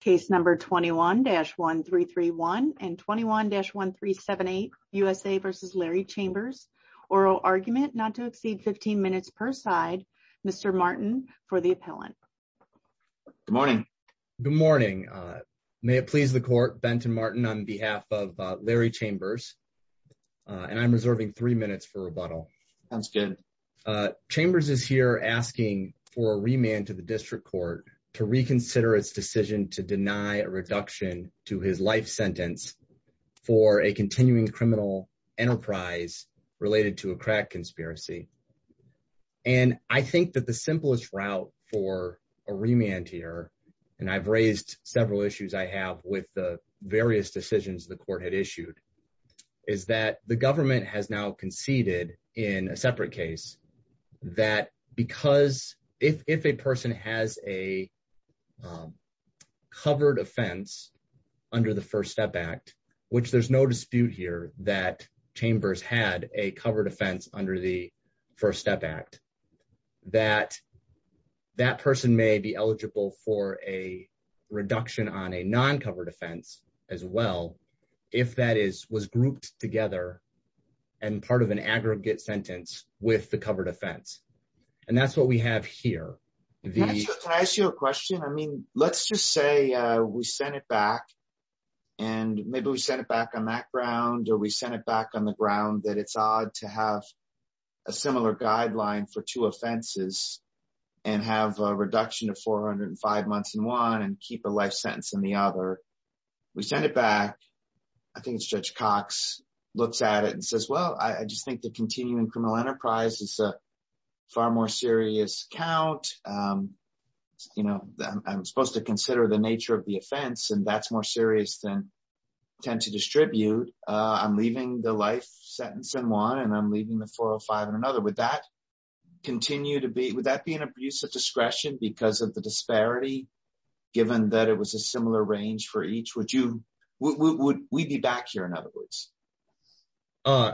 case number 21-1331 and 21-1378 USA v. Larry Chambers, oral argument not to exceed 15 minutes per side. Mr. Martin for the appellant. Good morning. Good morning. May it please the court Benton Martin on behalf of Larry Chambers. And I'm reserving three minutes for rebuttal. That's good. Chambers is here asking for a remand to the district court to reconsider its decision to deny a reduction to his life sentence for a continuing criminal enterprise related to a crack conspiracy. And I think that the simplest route for a remand here, and I've raised several issues I have with the various decisions the court had issued, is that the government has now conceded in a separate case that because if a person has a covered offense under the First Step Act, which there's no dispute here that Chambers had a covered offense under the First Step Act, that that person may be eligible for a reduction on a non-covered offense as well if that is was grouped together and part of an aggregate sentence with the covered offense. And that's what we have here. Can I ask you a question? I mean, let's just say we sent it back and maybe we sent it back on that ground or we sent it back on the ground that it's odd to have a similar guideline for two offenses and have a reduction of 405 months in one and keep a life sentence in the other. We send it back. I think it's Judge Cox looks at it and says, well, I just think the continuing criminal enterprise is a more serious count. You know, I'm supposed to consider the nature of the offense and that's more serious than tend to distribute. I'm leaving the life sentence in one and I'm leaving the 405 in another. Would that continue to be, would that be an abuse of discretion because of the disparity given that it was a similar range for each? Would you, would we be back here in other words? Uh,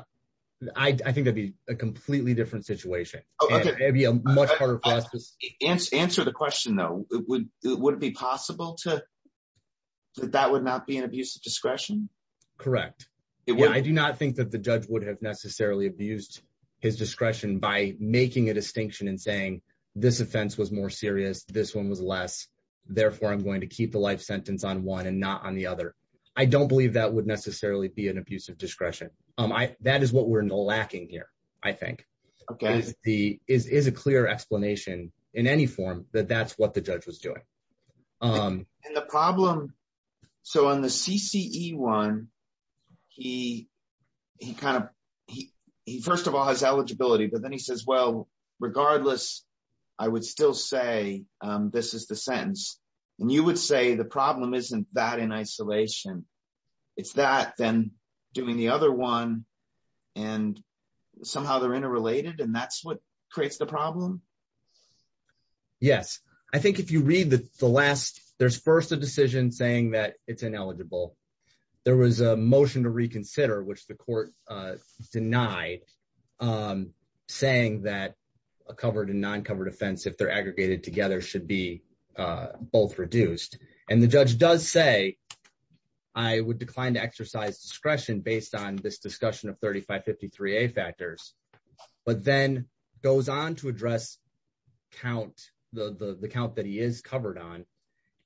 I, I think that'd be a completely different situation. Answer the question though. It would, would it be possible to, that that would not be an abuse of discretion? Correct. I do not think that the judge would have necessarily abused his discretion by making a distinction and saying this offense was more serious. This one was less. Therefore I'm going to keep the life sentence on one and not on the 405. That is what we're lacking here. I think the, is, is a clear explanation in any form that that's what the judge was doing. And the problem, so on the CCE one, he, he kind of, he, he first of all has eligibility, but then he says, well, regardless, I would still say this is the sentence and you would say the problem isn't that in isolation. It's that then doing the other one and somehow they're interrelated and that's what creates the problem. Yes. I think if you read the last, there's first a decision saying that it's ineligible. There was a motion to reconsider, which the court denied, um, saying that a covered and both reduced. And the judge does say, I would decline to exercise discretion based on this discussion of 3553A factors, but then goes on to address count the, the, the count that he is covered on.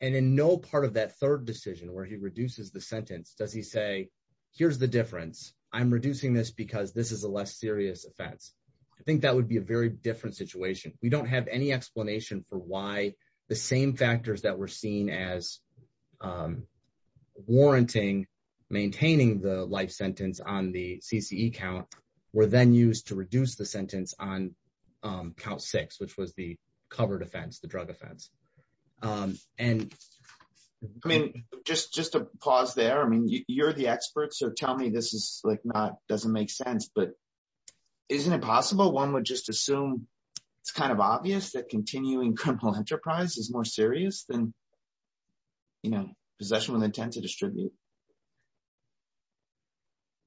And in no part of that third decision where he reduces the sentence, does he say, here's the difference. I'm reducing this because this is a less serious offense. I think that would be a very different situation. We don't have any explanation for why the same factors that were seen as, um, warranting maintaining the life sentence on the CCE count were then used to reduce the sentence on, um, count six, which was the covered offense, the drug offense. Um, and I mean, just, just a pause there. I mean, you're the experts or tell me this is like, not doesn't make sense, but isn't it possible. One would just assume it's kind of obvious that continuing criminal enterprise is more serious than, you know, possession with intent to distribute.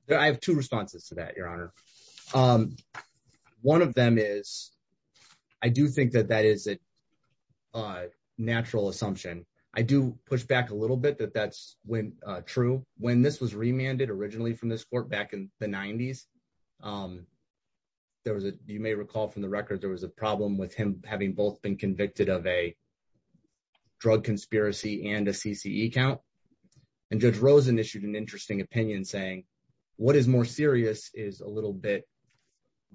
I have two responses to that, your honor. Um, one of them is, I do think that that is a natural assumption. I do push back a little bit that when, uh, true when this was remanded originally from this court back in the nineties, um, there was a, you may recall from the record, there was a problem with him having both been convicted of a drug conspiracy and a CCE count. And judge Rosen issued an interesting opinion saying what is more serious is a little bit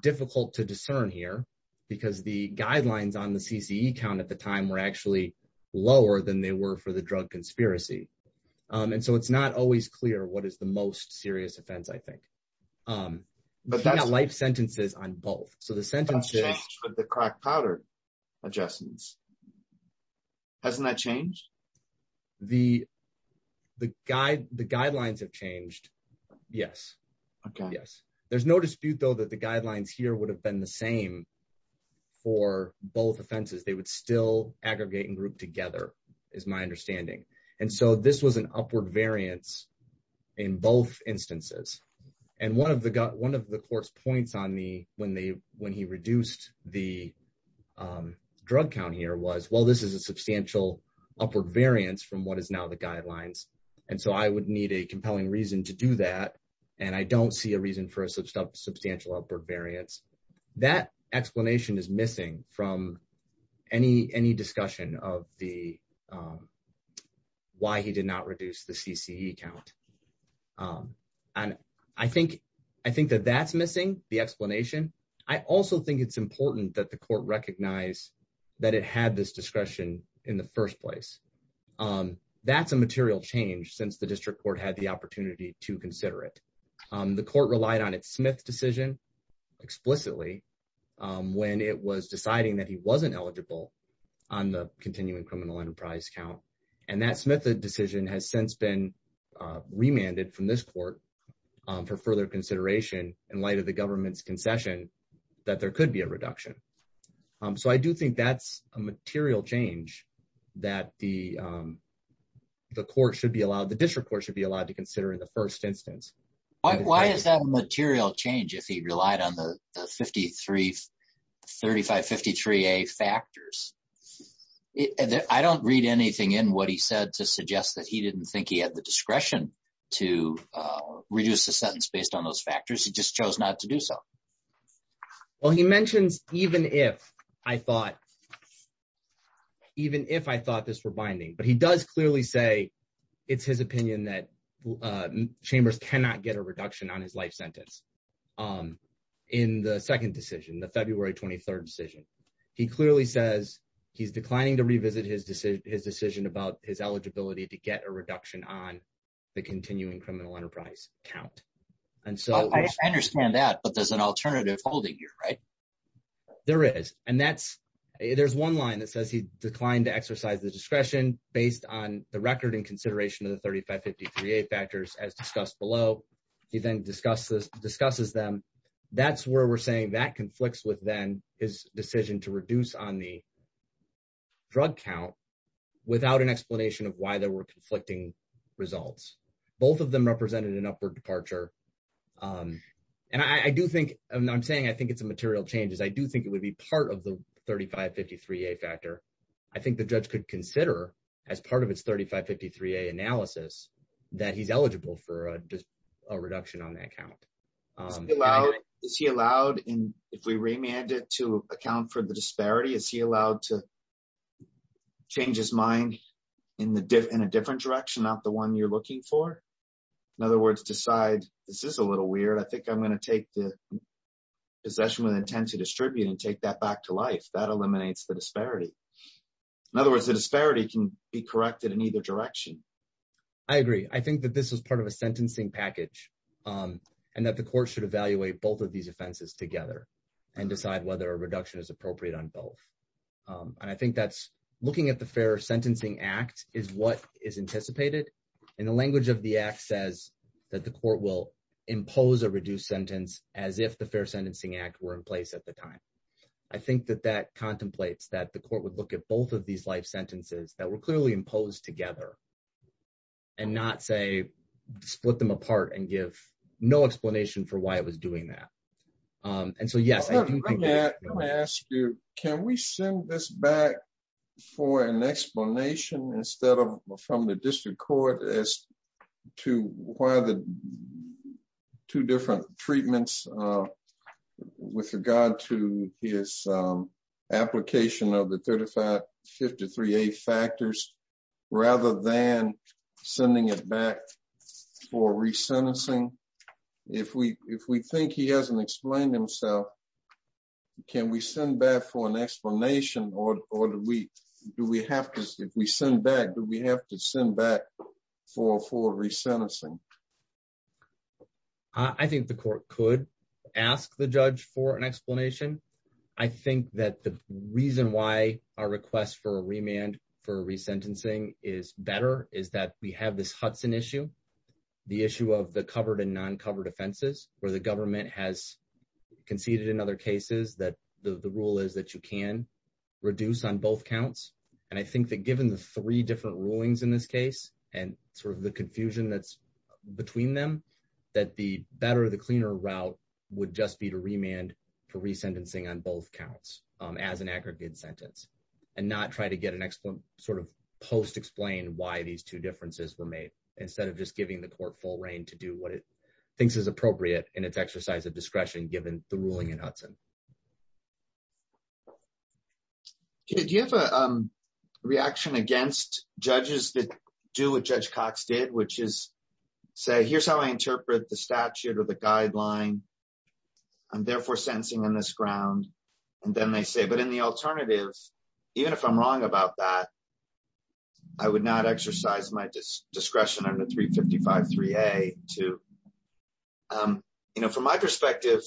difficult to discern here because the guidelines on the CCE count at the time were actually lower than they were for the drug conspiracy. Um, and so it's not always clear what is the most serious offense. I think, um, life sentences on both. So the sentence, the crack powder adjustments, hasn't that changed? The, the guide, the guidelines have changed. Yes. Okay. Yes. There's no dispute though, that the guidelines here would have been the same for both offenses. They would still aggregate and group together is my understanding. And so this was an upward variance in both instances. And one of the gut, one of the court's points on me when they, when he reduced the, um, drug count here was, well, this is a substantial upward variance from what is now the guidelines. And so I would need a compelling reason to do that. And I don't see a reason for a substantial, upward variance that explanation is missing from any, any discussion of the, um, why he did not reduce the CCE count. Um, and I think, I think that that's missing the explanation. I also think it's important that the court recognize that it had this discretion in the first place. Um, that's a material change since the district court had the opportunity to consider it. Um, the court relied on its Smith decision explicitly, um, when it was deciding that he wasn't eligible on the continuing criminal enterprise count. And that Smith decision has since been, uh, remanded from this court, um, for further consideration in light of the government's concession that there could be a reduction. Um, so I do think that's a material change that the, um, the court should be allowed. The district court should be allowed to consider in first instance. Why is that a material change? If he relied on the 53, 35, 53, a factors, I don't read anything in what he said to suggest that he didn't think he had the discretion to, uh, reduce the sentence based on those factors. He just chose not to do so. Well, he mentions, even if I thought, even if I thought this were binding, but he does clearly say it's his opinion that, uh, chambers cannot get a reduction on his life sentence. Um, in the second decision, the February 23rd decision, he clearly says he's declining to revisit his decision, his decision about his eligibility to get a reduction on the continuing criminal enterprise count. And so I understand that, but there's an alternative holding here, right? There is. And that's, there's one line that says he declined to exercise the discretion based on the record and consideration of the 35, 53, a factors as discussed below. He then discusses, discusses them. That's where we're saying that conflicts with then his decision to reduce on the drug count without an explanation of why there were conflicting results. Both of them represented an upward departure. Um, and I do think I'm saying, I think it's a material changes. I do think it would be part of the 35, 53, a factor. I think the judge could consider as part of its 35, 53, a analysis that he's eligible for a reduction on that count. Um, is he allowed in, if we remanded to account for the disparity, is he allowed to change his mind in the different, in a different direction, not the one you're looking for. In other words, decide this is a little weird. I think I'm going to take the possession with intent to distribute and take that back to life that eliminates the in other words, the disparity can be corrected in either direction. I agree. I think that this was part of a sentencing package. Um, and that the court should evaluate both of these offenses together and decide whether a reduction is appropriate on both. Um, and I think that's looking at the fair sentencing act is what is anticipated in the language of the X says that the court will impose a reduced sentence as if the fair sentencing act were in place at the time. I think that that contemplates that the court would look at both of these life sentences that were clearly imposed together and not say split them apart and give no explanation for why it was doing that. Um, and so, yes, I do think that I'm going to ask you, can we send this back for an explanation instead of from the district court as to why the two different treatments, uh, with regard to his, um, application of the 35, 53, a factors rather than sending it back for resentencing. If we, if we think he hasn't explained himself, can we send back for an explanation or, or do we, do we have to, if we send back, do we have to send back for, for resentencing? I think the court could ask the judge for an explanation. I think that the reason why our request for a remand for resentencing is better is that we have this Hudson issue, the issue of the covered and non-covered offenses where the government has conceded in other cases that the rule is that you can reduce on both counts. And I think that given the three different rulings in this case and sort of the confusion that's between them, that the better, the cleaner route would just be to remand for resentencing on both counts as an aggregate sentence and not try to get an excellent sort of post explain why these two differences were made instead of just giving the court full reign to do what it thinks is appropriate in its exercise of discretion, given the ruling in Hudson. Do you have a reaction against judges that do what Judge Cox did, which is say, here's how I interpret the statute or the guideline. I'm therefore sentencing on this ground. And then they say, but in the alternative, even if I'm wrong about that, I would not exercise my discretion under 355-3A too. From my perspective,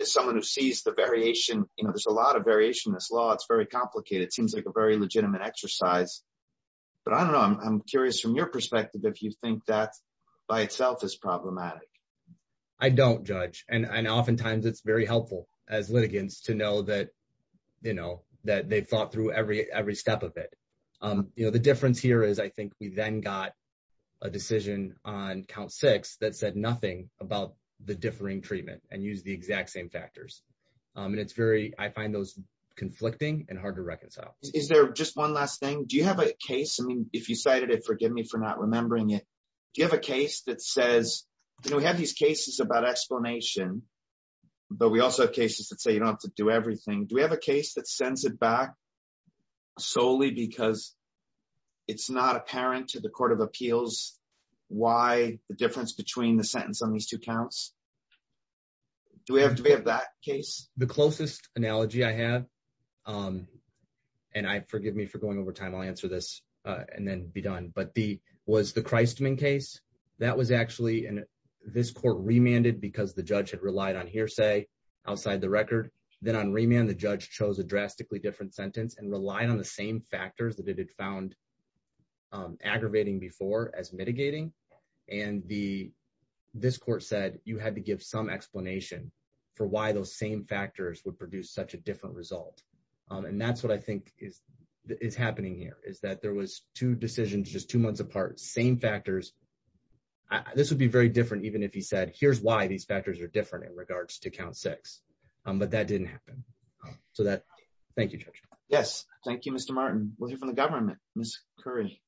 as someone who sees the variation, there's a lot of variation in this law. It's very complicated. It seems like a very legitimate exercise, but I don't know. I'm curious from your perspective, if you think that by itself is problematic. I don't judge. And oftentimes it's very helpful as litigants to know that they've every step of it. The difference here is I think we then got a decision on count six that said nothing about the differing treatment and use the exact same factors. And I find those conflicting and hard to reconcile. Is there just one last thing? Do you have a case? I mean, if you cited it, forgive me for not remembering it. Do you have a case that says, we have these cases about explanation, but we also have cases that say you don't have to do everything. Do we have a case that sends it back solely because it's not apparent to the court of appeals why the difference between the sentence on these two counts? Do we have that case? The closest analogy I have, and forgive me for going over time, I'll answer this and then be done. But was the Christman case, that was actually in this court remanded because the judge had relied on hearsay outside the record. Then on remand, the judge chose a drastically different sentence and relied on the same factors that it had found aggravating before as mitigating. And this court said you had to give some explanation for why those same factors would produce such a different result. And that's what I think is happening here, is that there was two decisions, just two months apart, same factors. This would be very different even if he said, here's why these factors are different in regards to count six, but that didn't happen. So that, thank you, Judge. Yes, thank you, Mr. Martin. We'll hear from the government, Ms. Curry.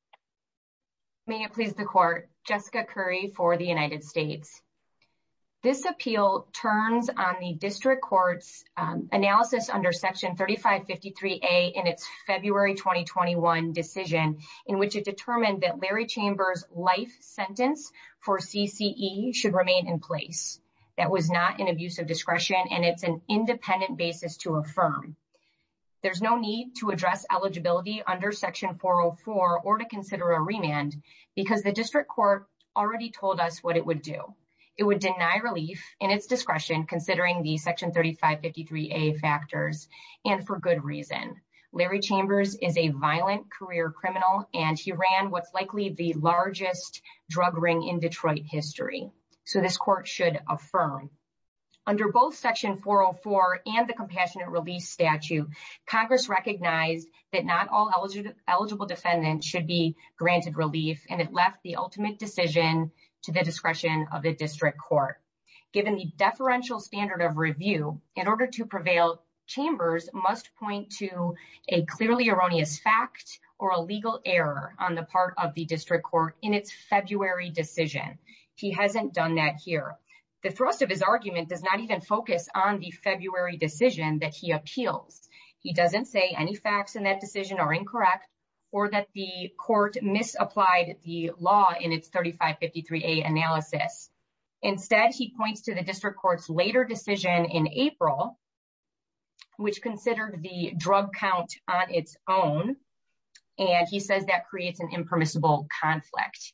May it please the court, Jessica Curry for the United States. This appeal turns on the district court's analysis under section 3553A in its February 2021 decision, in which it determined that Larry Chambers' life sentence for CCE should remain in place. That was not an abuse of discretion and it's an independent basis to affirm. There's no need to address eligibility under section 404 or to consider a remand because the district court already told us what it would do. It would deny relief in its discretion considering the section 3553A factors and for good reason. Larry Chambers is a violent career criminal and he ran what's likely the largest drug ring in Detroit history. So this court should affirm. Under both section 404 and the compassionate release statute, Congress recognized that not all eligible defendants should be granted relief and it left the ultimate decision to the discretion of the district court. Given the deferential standard of review, in order to prevail, Chambers must point to a clearly erroneous fact or a legal error on the part of the district court in its February decision. He hasn't done that here. The thrust of his argument does not even focus on the February decision that he appeals. He doesn't say any facts in that decision are incorrect or that the court misapplied the law in its 3553A analysis. Instead, he points to the district court's later decision in April, which considered the drug count on its own and he says that creates an impermissible conflict.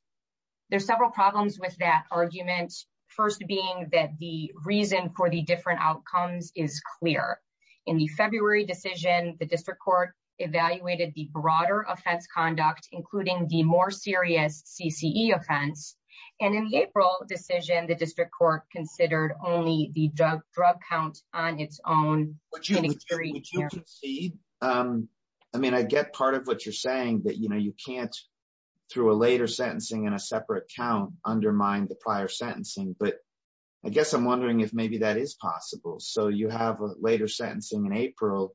There's several problems with that argument, first being that the reason for the different outcomes is clear. In the February decision, the district court evaluated the broader offense conduct, including the more serious CCE offense, and in the April decision, the district court considered only the drug count on its own. Would you concede? I mean, I get part of what you're saying that, you know, you can't, through a later sentencing and a separate count, undermine the prior sentencing, but I guess I'm wondering if maybe that is possible. So you have a later sentencing in April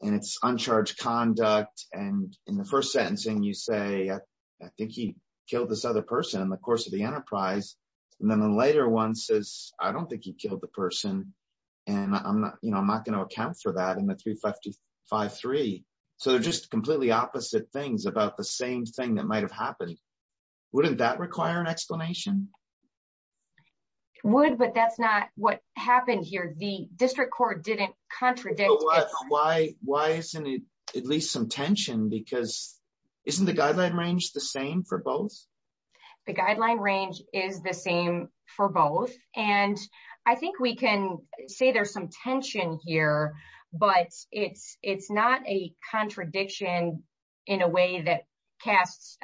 and it's uncharged conduct and in the first sentencing you say, I think he killed this other person in the course of the enterprise, and then the later one says, I don't think he killed the person and I'm not, you know, I'm not going to account for that in the 3553. So they're just completely opposite things about the same thing that might have happened. Wouldn't that require an explanation? It would, but that's not what happened here. The district court didn't contradict. Why isn't it at least some tension because isn't the guideline range the same for both? The guideline range is the same for both, and I think we can say there's some tension here, but it's not a contradiction in a way that casts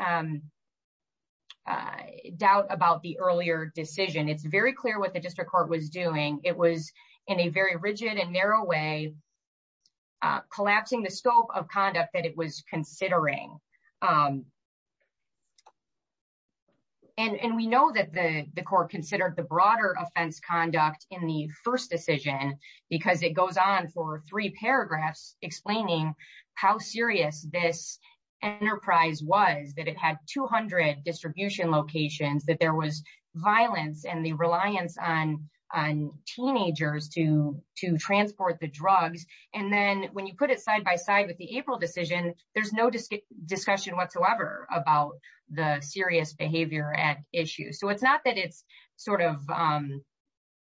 doubt about the earlier decision. It's very clear what the district court was doing. It was in a very rigid and narrow way collapsing the scope of conduct that it was considering. And we know that the court considered the broader offense conduct in the first decision because it goes on for three paragraphs explaining how serious this enterprise was, that it had 200 distribution locations, that there was violence and the reliance on teenagers to transport the drugs. And then when you put it side by side with the April decision, there's no discussion whatsoever about the serious behavior at issue. So it's not that it's sort of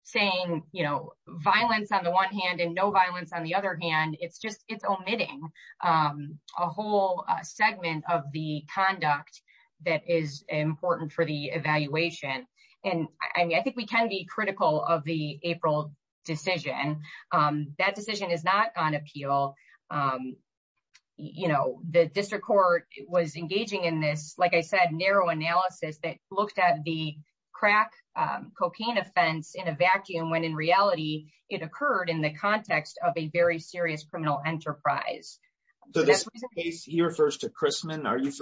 saying, you know, violence on the one hand and no violence on the other hand. It's just it's omitting a whole segment of the important for the evaluation. And I mean, I think we can be critical of the April decision. That decision is not on appeal. You know, the district court was engaging in this, like I said, narrow analysis that looked at the crack cocaine offense in a vacuum when in reality it occurred in the context of a very serious criminal enterprise. So this case here refers to Chrisman. Are you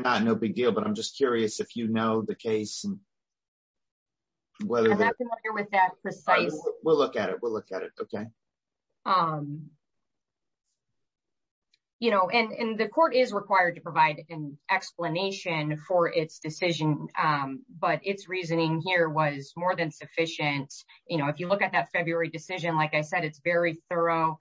not no big deal, but I'm just curious if you know the case. Whether that precise, we'll look at it, we'll look at it. Okay. You know, and the court is required to provide an explanation for its decision. But it's reasoning here was more than sufficient. You know, if you look at that February decision, like I said, it's very thorough.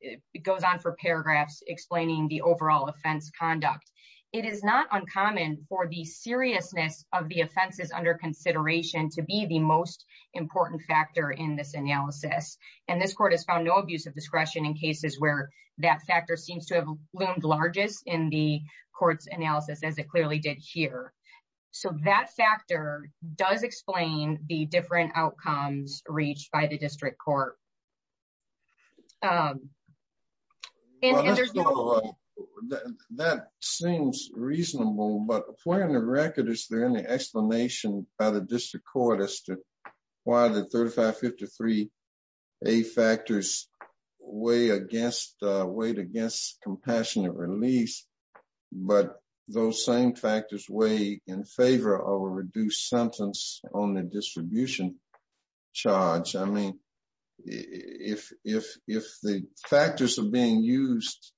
It goes on for paragraphs explaining the overall offense conduct. It is not uncommon for the seriousness of the offenses under consideration to be the most important factor in this analysis. And this court has found no abuse of discretion in cases where that factor seems to have loomed largest in the court's analysis as it clearly did here. So that factor does explain the different outcomes reached by the district court. Um, that seems reasonable, but for the record, is there any explanation by the district court as to why the 3553 a factors way against weight against compassionate release. But those same factors weigh in favor of a reduced sentence on the distribution charge. I mean, if the factors are being used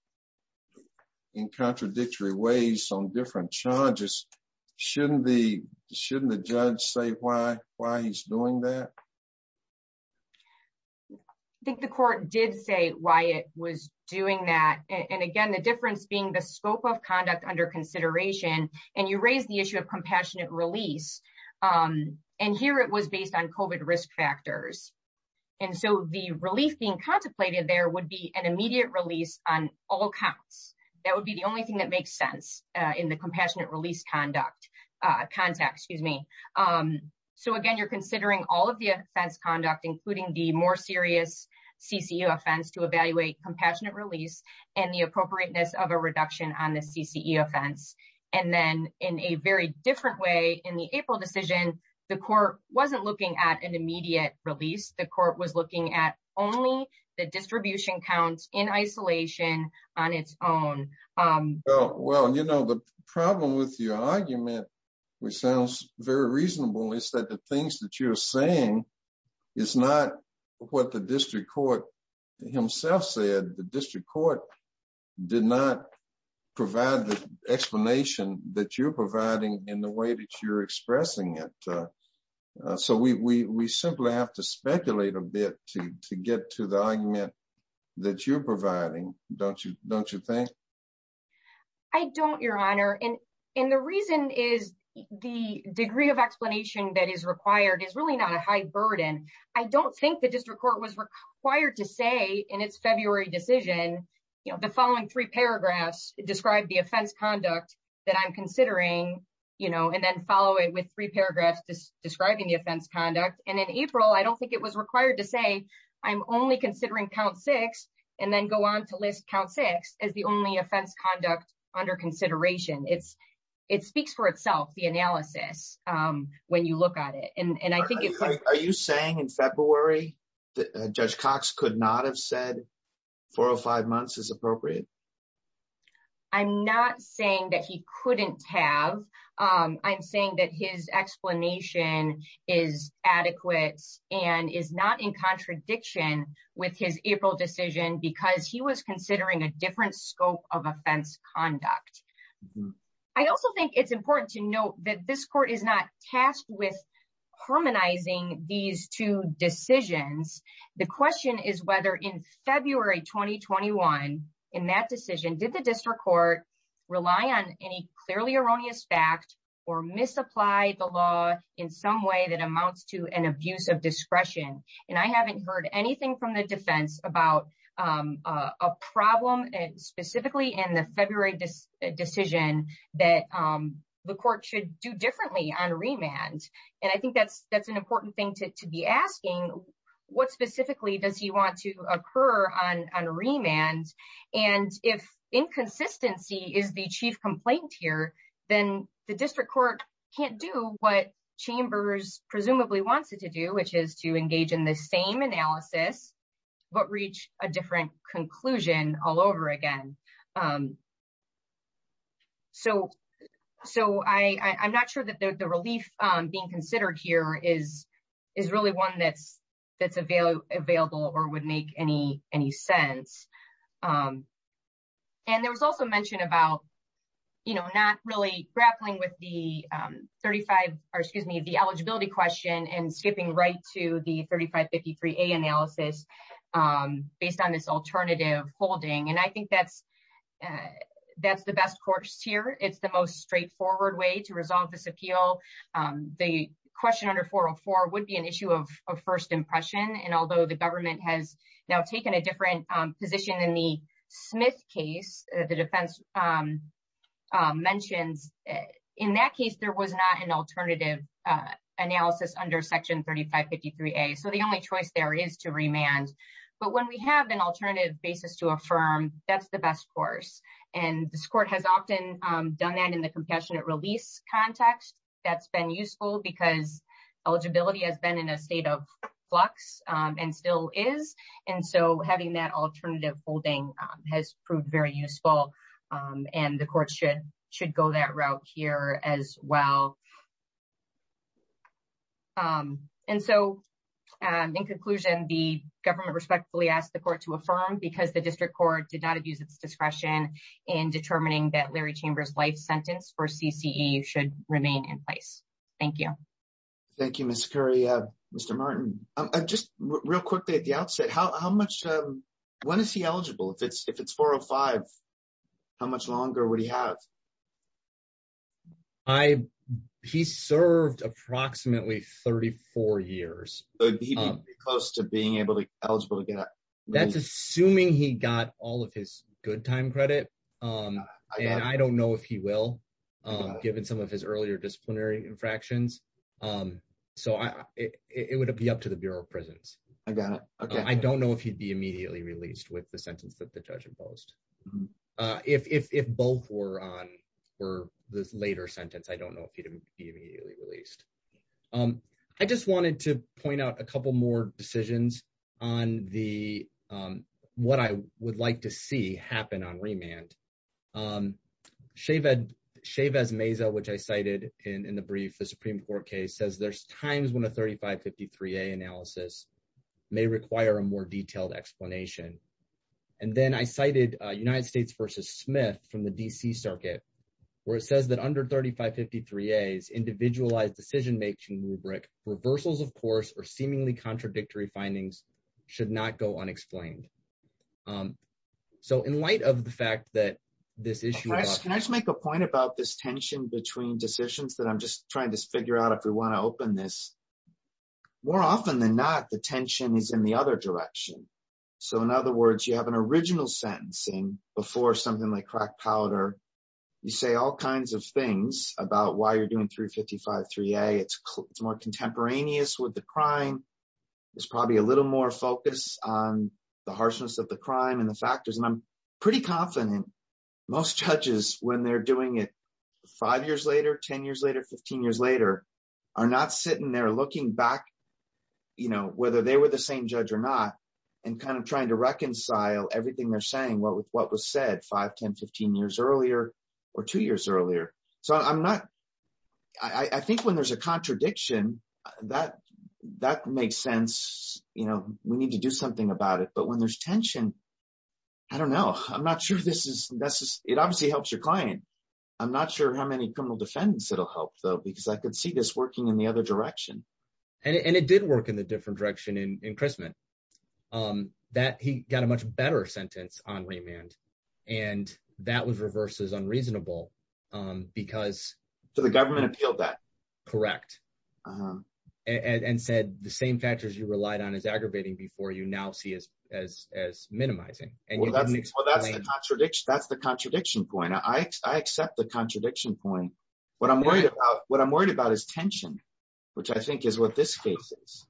in contradictory ways on different charges, shouldn't the shouldn't the judge say why why he's doing that? I think the court did say why it was doing that. And again, the difference being the scope of conduct under consideration, and you raise the issue of compassionate release. And here it was based on COVID risk factors. And so the relief being contemplated there would be an immediate release on all counts. That would be the only thing that makes sense in the compassionate release conduct, contact, excuse me. So again, you're considering all of the offense conduct, including the more serious CCO offense to evaluate compassionate release, and the appropriateness of reduction on the CCE offense. And then in a very different way in the April decision, the court wasn't looking at an immediate release, the court was looking at only the distribution counts in isolation on its own. Well, you know, the problem with your argument, which sounds very reasonable, is that the things that you're saying is not what the district court himself said the district court did not provide the explanation that you're providing in the way that you're expressing it. So we simply have to speculate a bit to get to the argument that you're providing, don't you? Don't you think? I don't, Your Honor. And the reason is the degree of explanation that is required is really not a high burden. I don't think the district court was required to say in its February decision, you know, the following three paragraphs describe the offense conduct that I'm considering, you know, and then follow it with three paragraphs describing the offense conduct. And in April, I don't think it was required to say, I'm only considering count six, and then go on to list count six as the only offense conduct under consideration. It speaks for itself, the four or five months is appropriate. I'm not saying that he couldn't have. I'm saying that his explanation is adequate and is not in contradiction with his April decision because he was considering a different scope of offense conduct. I also think it's important to note that this court is not decisions. The question is whether in February 2021, in that decision, did the district court rely on any clearly erroneous fact or misapply the law in some way that amounts to an abuse of discretion. And I haven't heard anything from the defense about a problem specifically in the February decision that the court should do differently on remand. And I think that's important thing to be asking. What specifically does he want to occur on remand? And if inconsistency is the chief complaint here, then the district court can't do what Chambers presumably wants it to do, which is to engage in the same analysis, but reach a different conclusion all over again. So I'm not sure that the relief being considered here is really one that's available or would make any sense. And there was also mentioned about not really grappling with the eligibility question and skipping right to the 3553A analysis based on this alternative holding. And I think that's the best course here. It's the most straightforward way to resolve this appeal. The question under 404 would be an issue of first impression. And although the government has now taken a different position in the Smith case, the defense mentions, in that case, there was not an alternative analysis under section 3553A. So the only choice there is to remand. But when we have an alternative basis to affirm, that's the best course. And this court has often done that in the compassionate release context. That's been useful because eligibility has been in a state of flux and still is. And so having that alternative holding has proved very useful. And the court should go that route here as well. And so, in conclusion, the government respectfully asked the court to affirm because the district court did not abuse its discretion in determining that Larry Chambers' life sentence for CCE should remain in place. Thank you. Thank you, Ms. Currie. Mr. Martin, just real quickly at the outset, how much, when is he eligible? If it's 405, how much longer would he have? I, he served approximately 34 years. So he'd be close to being able to, eligible to get a- That's assuming he got all of his good time credit. And I don't know if he will, given some of his earlier disciplinary infractions. So I, it would be up to the Bureau of Prisons. I got it. Okay. I don't know if he'd be immediately released with the sentence that the judge imposed. If both were on, were this later sentence, I don't know if he'd be immediately released. I just wanted to point out a couple more decisions on the, what I would like to see happen on remand. Chavez-Meza, which I cited in the brief, the Supreme Court case says there's times when a 3553A analysis may require a more detailed explanation. And then I cited United States versus Smith from the DC circuit, where it says that under 3553As, individualized decision-making rubric, reversals of course, or seemingly contradictory findings should not go unexplained. So in light of the fact that this issue- Can I just make a point about this tension between decisions that I'm just trying to figure out if we want to open this. More often than not, the tension is in the other direction. So in other words, you have an original sentencing before something like crack powder. You say all kinds of things about why you're doing 3553A. It's more contemporaneous with the crime. There's probably a little more focus on the harshness of the crime and the factors. And I'm pretty confident most judges when they're doing it five years later, 10 years later, 15 years later, are not sitting there looking back, whether they were the same judge or not, and trying to reconcile everything they're saying, what was said five, 10, 15 years earlier, or two years earlier. So I think when there's a contradiction, that makes sense. We need to do something about it. But when there's tension, I don't know. I'm not sure this is necessary. It obviously helps your client. I'm not sure how many criminal defendants it'll help though, because I could see this working in the other direction. And it did work in a different direction in Chrisman. He got a much better sentence on remand. And that was reversed as unreasonable because- So the government appealed that. Correct. And said the same factors you relied on as aggravating before you now see as minimizing. Well, that's the contradiction. That's the contradiction point. I accept the contradiction point. What I'm worried about is tension, which I think is what this case is.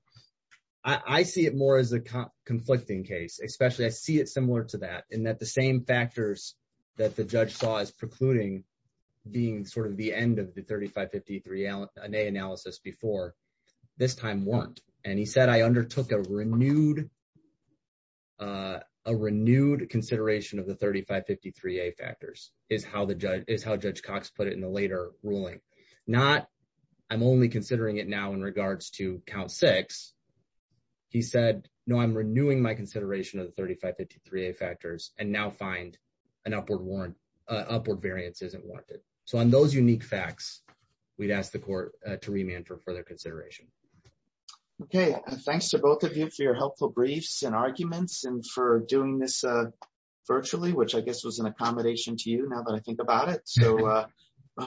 I see it more as a conflicting case, especially I see it similar to that, in that the same factors that the judge saw as precluding being the end of the 3553-A analysis before, this time weren't. And he said, I undertook a renewed consideration of the 3553-A factors, is how Judge Cox put it in the later ruling. Not, I'm only considering it now in regards to count six. He said, no, I'm renewing my consideration of the 3553-A factors and now find an upward warrant, upward variance isn't warranted. So, on those unique facts, we'd ask the court to remand for further consideration. Okay. Thanks to both of you for your helpful briefs and arguments and for doing this virtually, which I guess was an accommodation to you now that I think about it. So,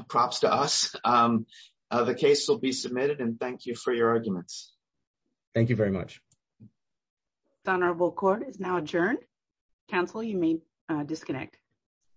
props to us. The case will be submitted and thank you for your arguments. Thank you very much. The honorable court is now adjourned. Counsel, you may disconnect.